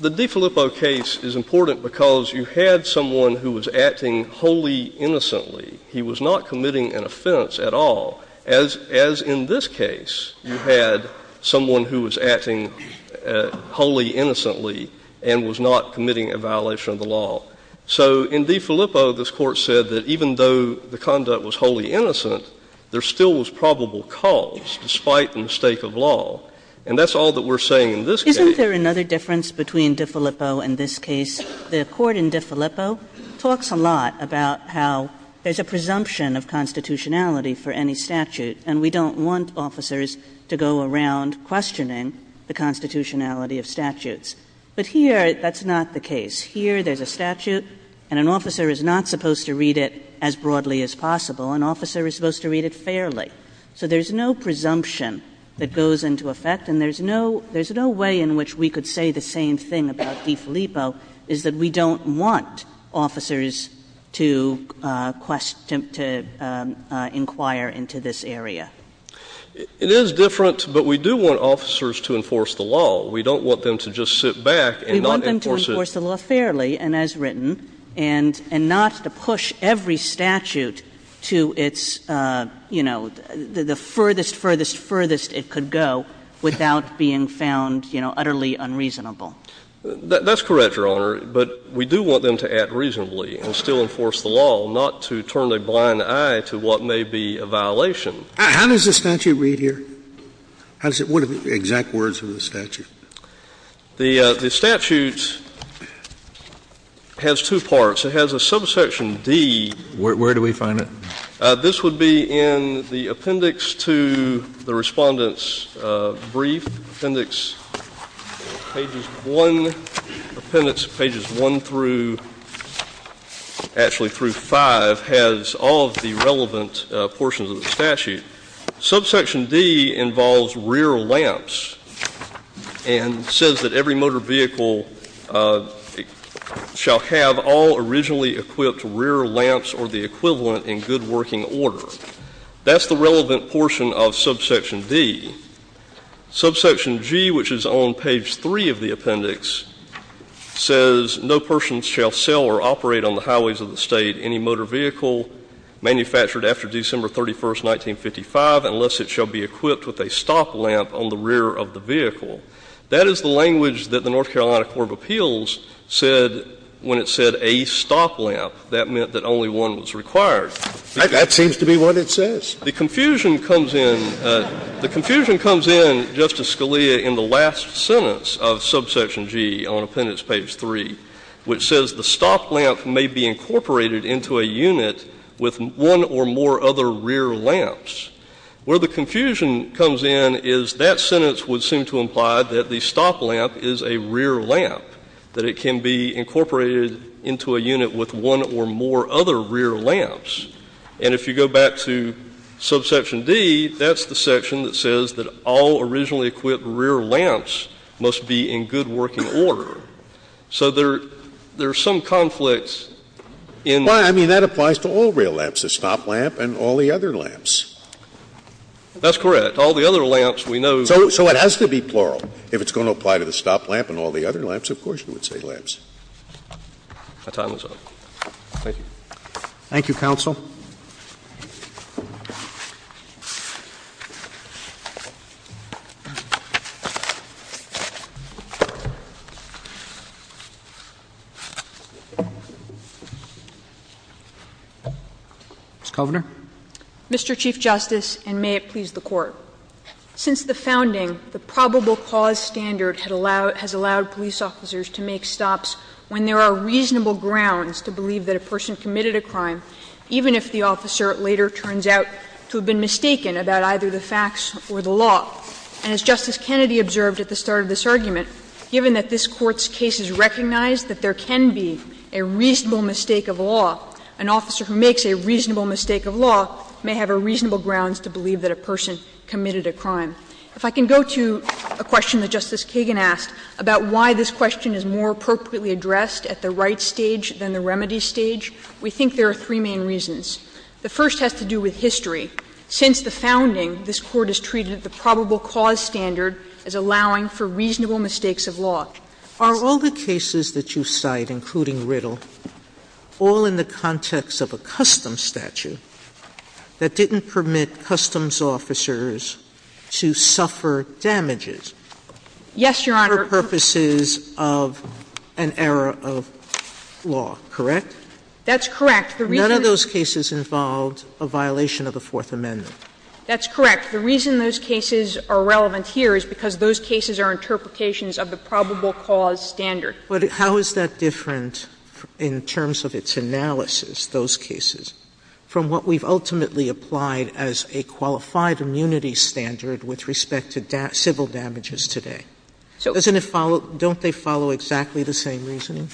DiFilippo case is important because you had someone who was acting wholly innocently. He was not committing an offense at all, as in this case you had someone who was acting wholly innocently and was not committing a violation of the law. So in DiFilippo, this Court said that even though the conduct was wholly innocent, there still was probable cause, despite the mistake of law. And that's all that we're saying in this case. Isn't there another difference between DiFilippo and this case? The Court in DiFilippo talks a lot about how there's a presumption of constitutionality for any statute, and we don't want officers to go around questioning the constitutionality of statutes. But here, that's not the case. Here, there's a statute and an officer is not supposed to read it as broadly as possible. An officer is supposed to read it fairly. So there's no presumption that goes into effect and there's no — there's no way in which we could say the same thing about DiFilippo, is that we don't want officers to inquire into this area. It is different, but we do want officers to enforce the law. We don't want them to just sit back and not enforce it. We want them to enforce the law fairly and as written, and not to push every statute to its, you know, the furthest, furthest, furthest it could go without being found, you know, utterly unreasonable. That's correct, Your Honor, but we do want them to act reasonably and still enforce the law, not to turn a blind eye to what may be a violation. How does the statute read here? How does it — what are the exact words of the statute? The statute has two parts. It has a subsection D. Where do we find it? This would be in the appendix to the Respondent's brief, appendix pages 1 — appendix pages 1 through — actually through 5 has all of the relevant portions of the statute. Subsection D involves rear lamps and says that every motor vehicle shall have all originally equipped rear lamps or the equivalent in good working order. That's the relevant portion of subsection D. Subsection G, which is on page 3 of the appendix, says no person shall sell or operate on the highways of the state any motor vehicle manufactured after December 31, 1955, unless it shall be equipped with a stop lamp on the rear of the vehicle. That is the language that the North Carolina Court of Appeals said when it said a stop lamp. That meant that only one was required. That seems to be what it says. The confusion comes in — the confusion comes in, Justice Scalia, in the last sentence of subsection G on appendix page 3, which says the stop lamp may be incorporated into a unit with one or more other rear lamps. Where the confusion comes in is that sentence would seem to imply that the stop lamp is a rear lamp, that it can be incorporated into a unit with one or more other rear lamps. And if you go back to subsection D, that's the section that says that all originally equipped rear lamps must be in good working order. So there are some conflicts in the — That's correct. All the other lamps, we know — So it has to be plural. If it's going to apply to the stop lamp and all the other lamps, of course you would say lamps. My time is up. Thank you. Thank you, counsel. Ms. Kovner. Mr. Chief Justice, and may it please the Court. Since the founding, the probable cause standard has allowed police officers to make stops when there are reasonable grounds to believe that a person committed a crime, even if the officer later turns out to have been mistaken about either the facts or the law. And as Justice Kennedy observed at the start of this argument, given that this Court's case has recognized that there can be a reasonable mistake of law, an officer who makes a reasonable mistake of law may have a reasonable grounds to believe that a person committed a crime. If I can go to a question that Justice Kagan asked about why this question is more appropriately addressed at the right stage than the remedy stage, we think there are three main reasons. The first has to do with history. Since the founding, this Court has treated the probable cause standard as allowing for reasonable mistakes of law. Sotomayor, are all the cases that you cite, including Riddle, all in the context of a custom statute that didn't permit customs officers to suffer damages for purposes of an error of law, correct? Yes, Your Honor, that's correct. None of those cases involved a violation of the Fourth Amendment. That's correct. The reason those cases are relevant here is because those cases are interpretations of the probable cause standard. But how is that different in terms of its analysis, those cases, from what we've ultimately applied as a qualified immunity standard with respect to civil damages today? Doesn't it follow — don't they follow exactly the same reasoning?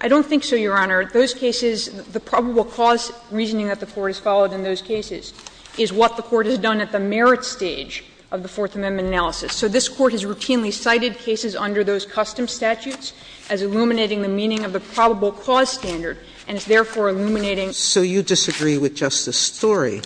I don't think so, Your Honor. Those cases, the probable cause reasoning that the Court has followed in those cases is what the Court has done at the merit stage of the Fourth Amendment analysis. So this Court has routinely cited cases under those custom statutes as illuminating the meaning of the probable cause standard, and it's therefore illuminating the meaning of the probable cause standard. So you disagree with Justice Storey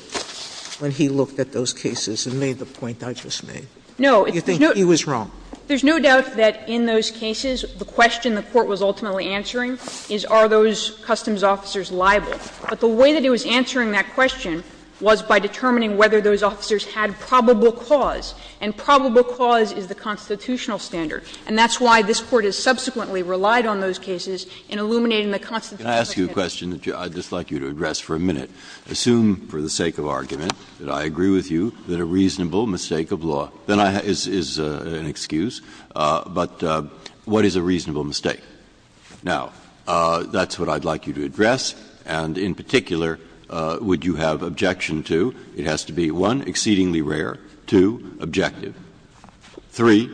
when he looked at those cases and made the point I just made? No. You think he was wrong? There's no doubt that in those cases the question the Court was ultimately answering is are those customs officers liable. But the way that it was answering that question was by determining whether those officers had probable cause, and probable cause is the constitutional standard. And that's why this Court has subsequently relied on those cases in illuminating the constitutional standard. Breyer. Can I ask you a question that I'd just like you to address for a minute? Assume for the sake of argument that I agree with you that a reasonable mistake of law, then I — is an excuse. But what is a reasonable mistake? Now, that's what I'd like you to address, and in particular, would you have objection to? It has to be, one, exceedingly rare, two, objective, three,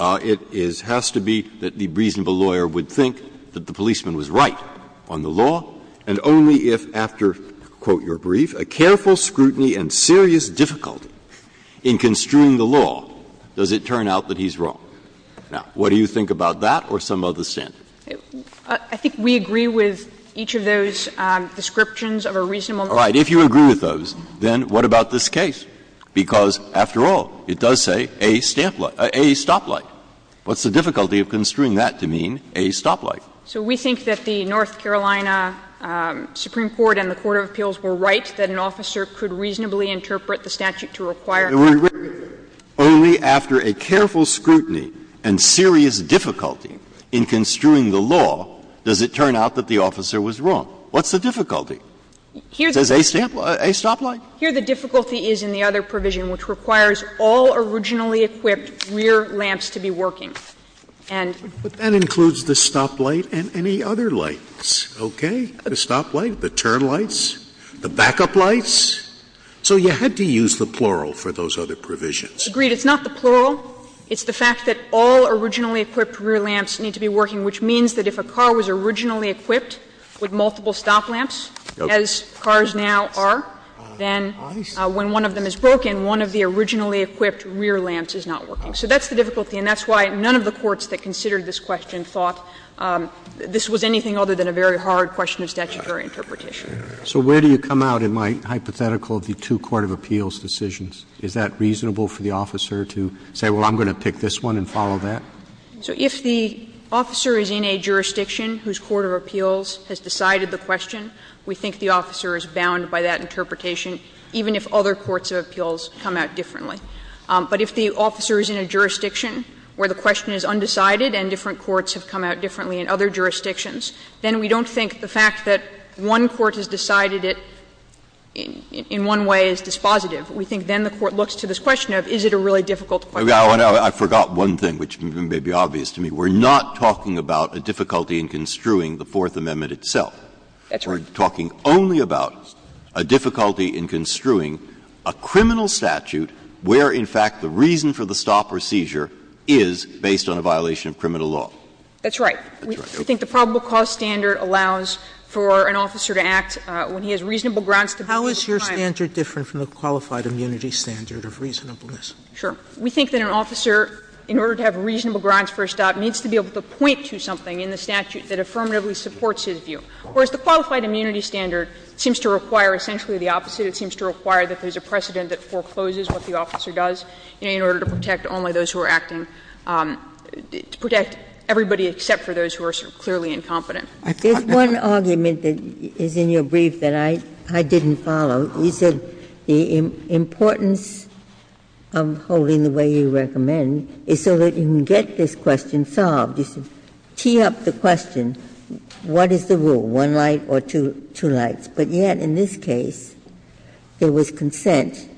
it is — has to be that the reasonable lawyer would think that the policeman was right on the law, and only if, after, quote, your brief, a careful scrutiny and serious difficulty in construing the law, does it turn out that he's wrong. Now, what do you think about that or some other standard? I think we agree with each of those descriptions of a reasonable mistake. All right. If you agree with those, then what about this case? Because, after all, it does say a stamp – a stoplight. What's the difficulty of construing that to mean a stoplight? So we think that the North Carolina Supreme Court and the court of appeals were right that an officer could reasonably interpret the statute to require a reasonable mistake. Only after a careful scrutiny and serious difficulty in construing the law does it turn out that the officer was wrong. What's the difficulty? It says a stamp – a stoplight? Here the difficulty is in the other provision, which requires all originally equipped rear lamps to be working. And… But that includes the stoplight and any other lights, okay? The stoplight, the turn lights, the backup lights. So you had to use the plural for those other provisions. Agreed. It's not the plural. It's the fact that all originally equipped rear lamps need to be working, which means that if a car was originally equipped with multiple stop lamps, as cars now are, then when one of them is broken, one of the originally equipped rear lamps is not working. So that's the difficulty, and that's why none of the courts that considered this question thought this was anything other than a very hard question of statutory interpretation. Roberts So where do you come out in my hypothetical of the two court of appeals decisions? Is that reasonable for the officer to say, well, I'm going to pick this one and follow that? So if the officer is in a jurisdiction whose court of appeals has decided the question, we think the officer is bound by that interpretation, even if other courts of appeals come out differently. But if the officer is in a jurisdiction where the question is undecided and different courts have come out differently in other jurisdictions, then we don't think the question of whether one court has decided it in one way is dispositive. We think then the court looks to this question of, is it a really difficult question? Breyer I forgot one thing, which may be obvious to me. We're not talking about a difficulty in construing the Fourth Amendment itself. We're talking only about a difficulty in construing a criminal statute where, in fact, the reason for the stop or seizure is based on a violation of criminal law. That's right. We think the probable cause standard allows for an officer to act when he has reasonable grounds to be defiant. Sotomayor How is your standard different from the qualified immunity standard of reasonableness? Breyer Sure. We think that an officer, in order to have reasonable grounds for a stop, needs to be able to point to something in the statute that affirmatively supports his view. Whereas the qualified immunity standard seems to require essentially the opposite. It seems to require that there's a precedent that forecloses what the officer does in order to protect only those who are acting, to protect everybody except for those who are clearly incompetent. Ginsburg There's one argument that is in your brief that I didn't follow. You said the importance of holding the way you recommend is so that you can get this question solved. You said tee up the question, what is the rule, one light or two lights? But yet in this case, there was consent.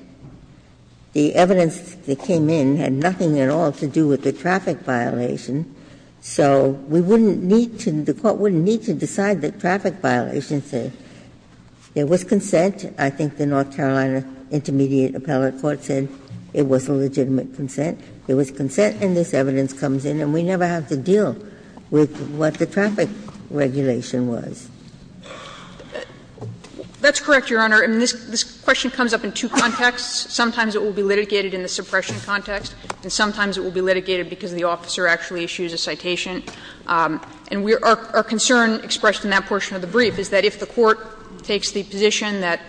The evidence that came in had nothing at all to do with the traffic violation. So we wouldn't need to, the Court wouldn't need to decide that traffic violations say. There was consent. I think the North Carolina Intermediate Appellate Court said it was a legitimate consent. There was consent and this evidence comes in and we never have to deal with what the traffic regulation was. Breyer That's correct, Your Honor. And this question comes up in two contexts. Sometimes it will be litigated in the suppression context and sometimes it will be litigated because the officer actually issues a citation. And our concern expressed in that portion of the brief is that if the court takes the position that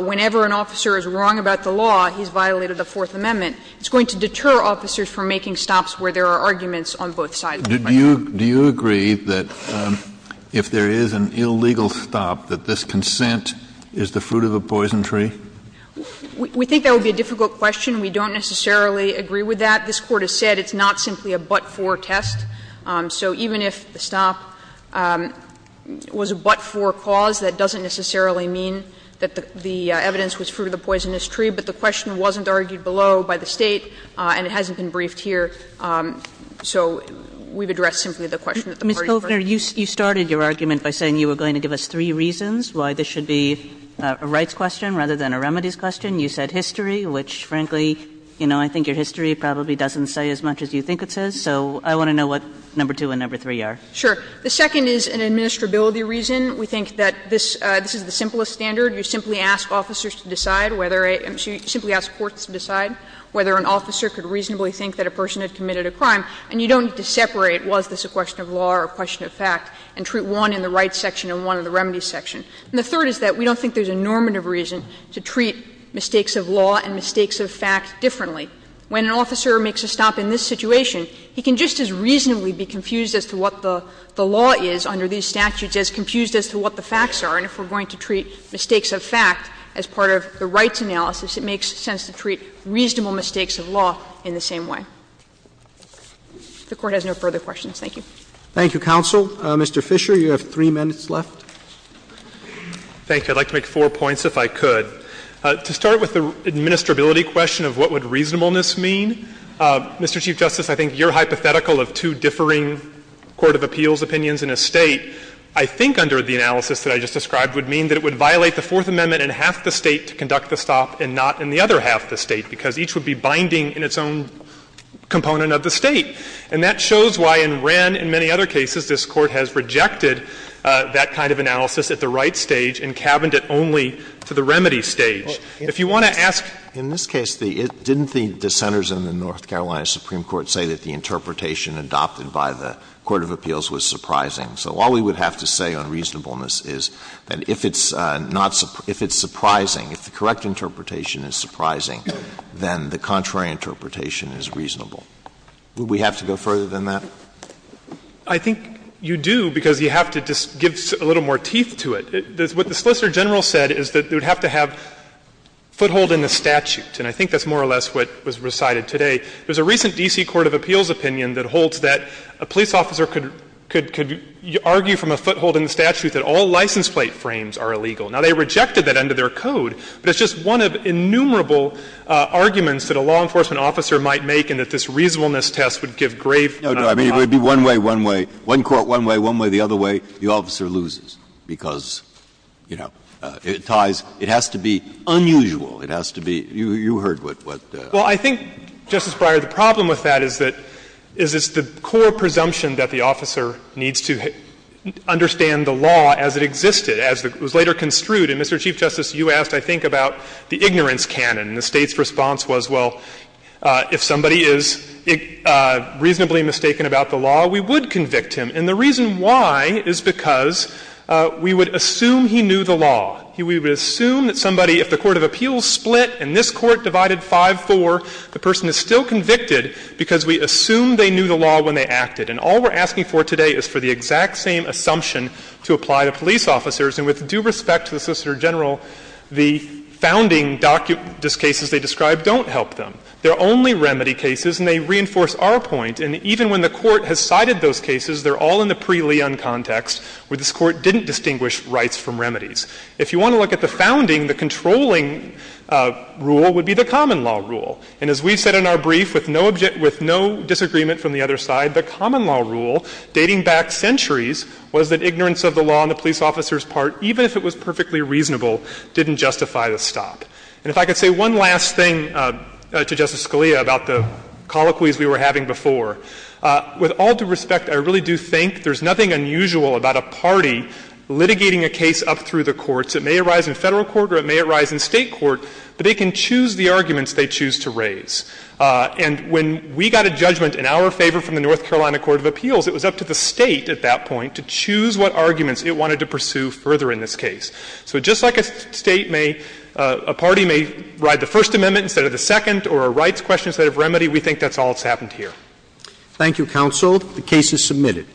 whenever an officer is wrong about the law, he's violated the Fourth Amendment, it's going to deter officers from making stops where there are arguments on both sides. Kennedy Do you agree that if there is an illegal stop, that this consent is the fruit of a poison tree? Ginsburg We think that would be a difficult question. We don't necessarily agree with that. This Court has said it's not simply a but-for test. So even if the stop was a but-for cause, that doesn't necessarily mean that the evidence was fruit of the poisonous tree, but the question wasn't argued below by the State and it hasn't been briefed here. So we've addressed simply the question that the parties first. Kagan Ms. Kovner, you started your argument by saying you were going to give us three reasons why this should be a rights question rather than a remedies question. You said history, which, frankly, you know, I think your history probably doesn't say as much as you think it says. So I want to know what number two and number three are. Kovner Sure. The second is an administrability reason. We think that this is the simplest standard. You simply ask officers to decide whether a – you simply ask courts to decide whether an officer could reasonably think that a person had committed a crime. And you don't need to separate was this a question of law or a question of fact and treat one in the rights section and one in the remedies section. And the third is that we don't think there's a normative reason to treat mistakes of law and mistakes of fact differently. When an officer makes a stop in this situation, he can just as reasonably be confused as to what the law is under these statutes, as confused as to what the facts are, and if we're going to treat mistakes of fact as part of the rights analysis, it makes sense to treat reasonable mistakes of law in the same way. If the Court has no further questions, thank you. Roberts Thank you, counsel. Mr. Fisher, you have three minutes left. Fisher Thank you. I'd like to make four points if I could. To start with the administrability question of what would reasonableness mean, Mr. Chief Justice, I think your hypothetical of two differing court of appeals opinions in a State I think under the analysis that I just described would mean that it would violate the Fourth Amendment in half the State to conduct the stop and not in the other half the State, because each would be binding in its own component of the State. And that shows why in Wren and many other cases this Court has rejected that kind of analysis at the right stage and cabined it only to the remedy stage. If you want to ask the question of reasonableness, in this case, didn't the dissenters in the North Carolina Supreme Court say that the interpretation adopted by the court of appeals was surprising? So all we would have to say on reasonableness is that if it's not – if it's surprising, if the correct interpretation is surprising, then the contrary interpretation is reasonable. Would we have to go further than that? Fisherman I think you do, because you have to just give a little more teeth to it. What the Solicitor General said is that it would have to have foothold in the statute, and I think that's more or less what was recited today. There's a recent D.C. court of appeals opinion that holds that a police officer could argue from a foothold in the statute that all license plate frames are illegal. Now, they rejected that under their code, but it's just one of innumerable arguments that a law enforcement officer might make and that this reasonableness test would give grave— Breyer No, no. I mean, it would be one way, one way, one court, one way, one way, the other way. The officer loses because, you know, it ties. It has to be unusual. It has to be – you heard what— Fisherman Well, I think, Justice Breyer, the problem with that is that it's the core presumption that the officer needs to understand the law as it existed, as it was later construed. Mr. Chief Justice, you asked, I think, about the ignorance canon, and the State's response was, well, if somebody is reasonably mistaken about the law, we would convict him. And the reason why is because we would assume he knew the law. We would assume that somebody, if the court of appeals split and this court divided 5-4, the person is still convicted because we assumed they knew the law when they acted. And all we're asking for today is for the exact same assumption to apply to police officers. And the reason why is because the common law rule, in the case of the former officer general, the founding cases they described don't help them. They're only remedy cases, and they reinforce our point. And even when the Court has cited those cases, they're all in the pre-Leon context, where this Court didn't distinguish rights from remedies. If you want to look at the founding, the controlling rule would be the common law rule. And as we've said in our brief, with no disagreement from the other side, the common law rule, dating back centuries, was that ignorance of the law on the police officer's part, even if it was perfectly reasonable, didn't justify the stop. And if I could say one last thing to Justice Scalia about the colloquies we were having before. With all due respect, I really do think there's nothing unusual about a party litigating a case up through the courts. It may arise in Federal court or it may arise in State court, but they can choose the arguments they choose to raise. And when we got a judgment in our favor from the North Carolina Court of Appeals, it was up to the State at that point to choose what arguments it wanted to pursue further in this case. So just like a State may — a party may ride the First Amendment instead of the Second or a rights question instead of remedy, we think that's all that's happened here. Thank you, counsel. The case is submitted.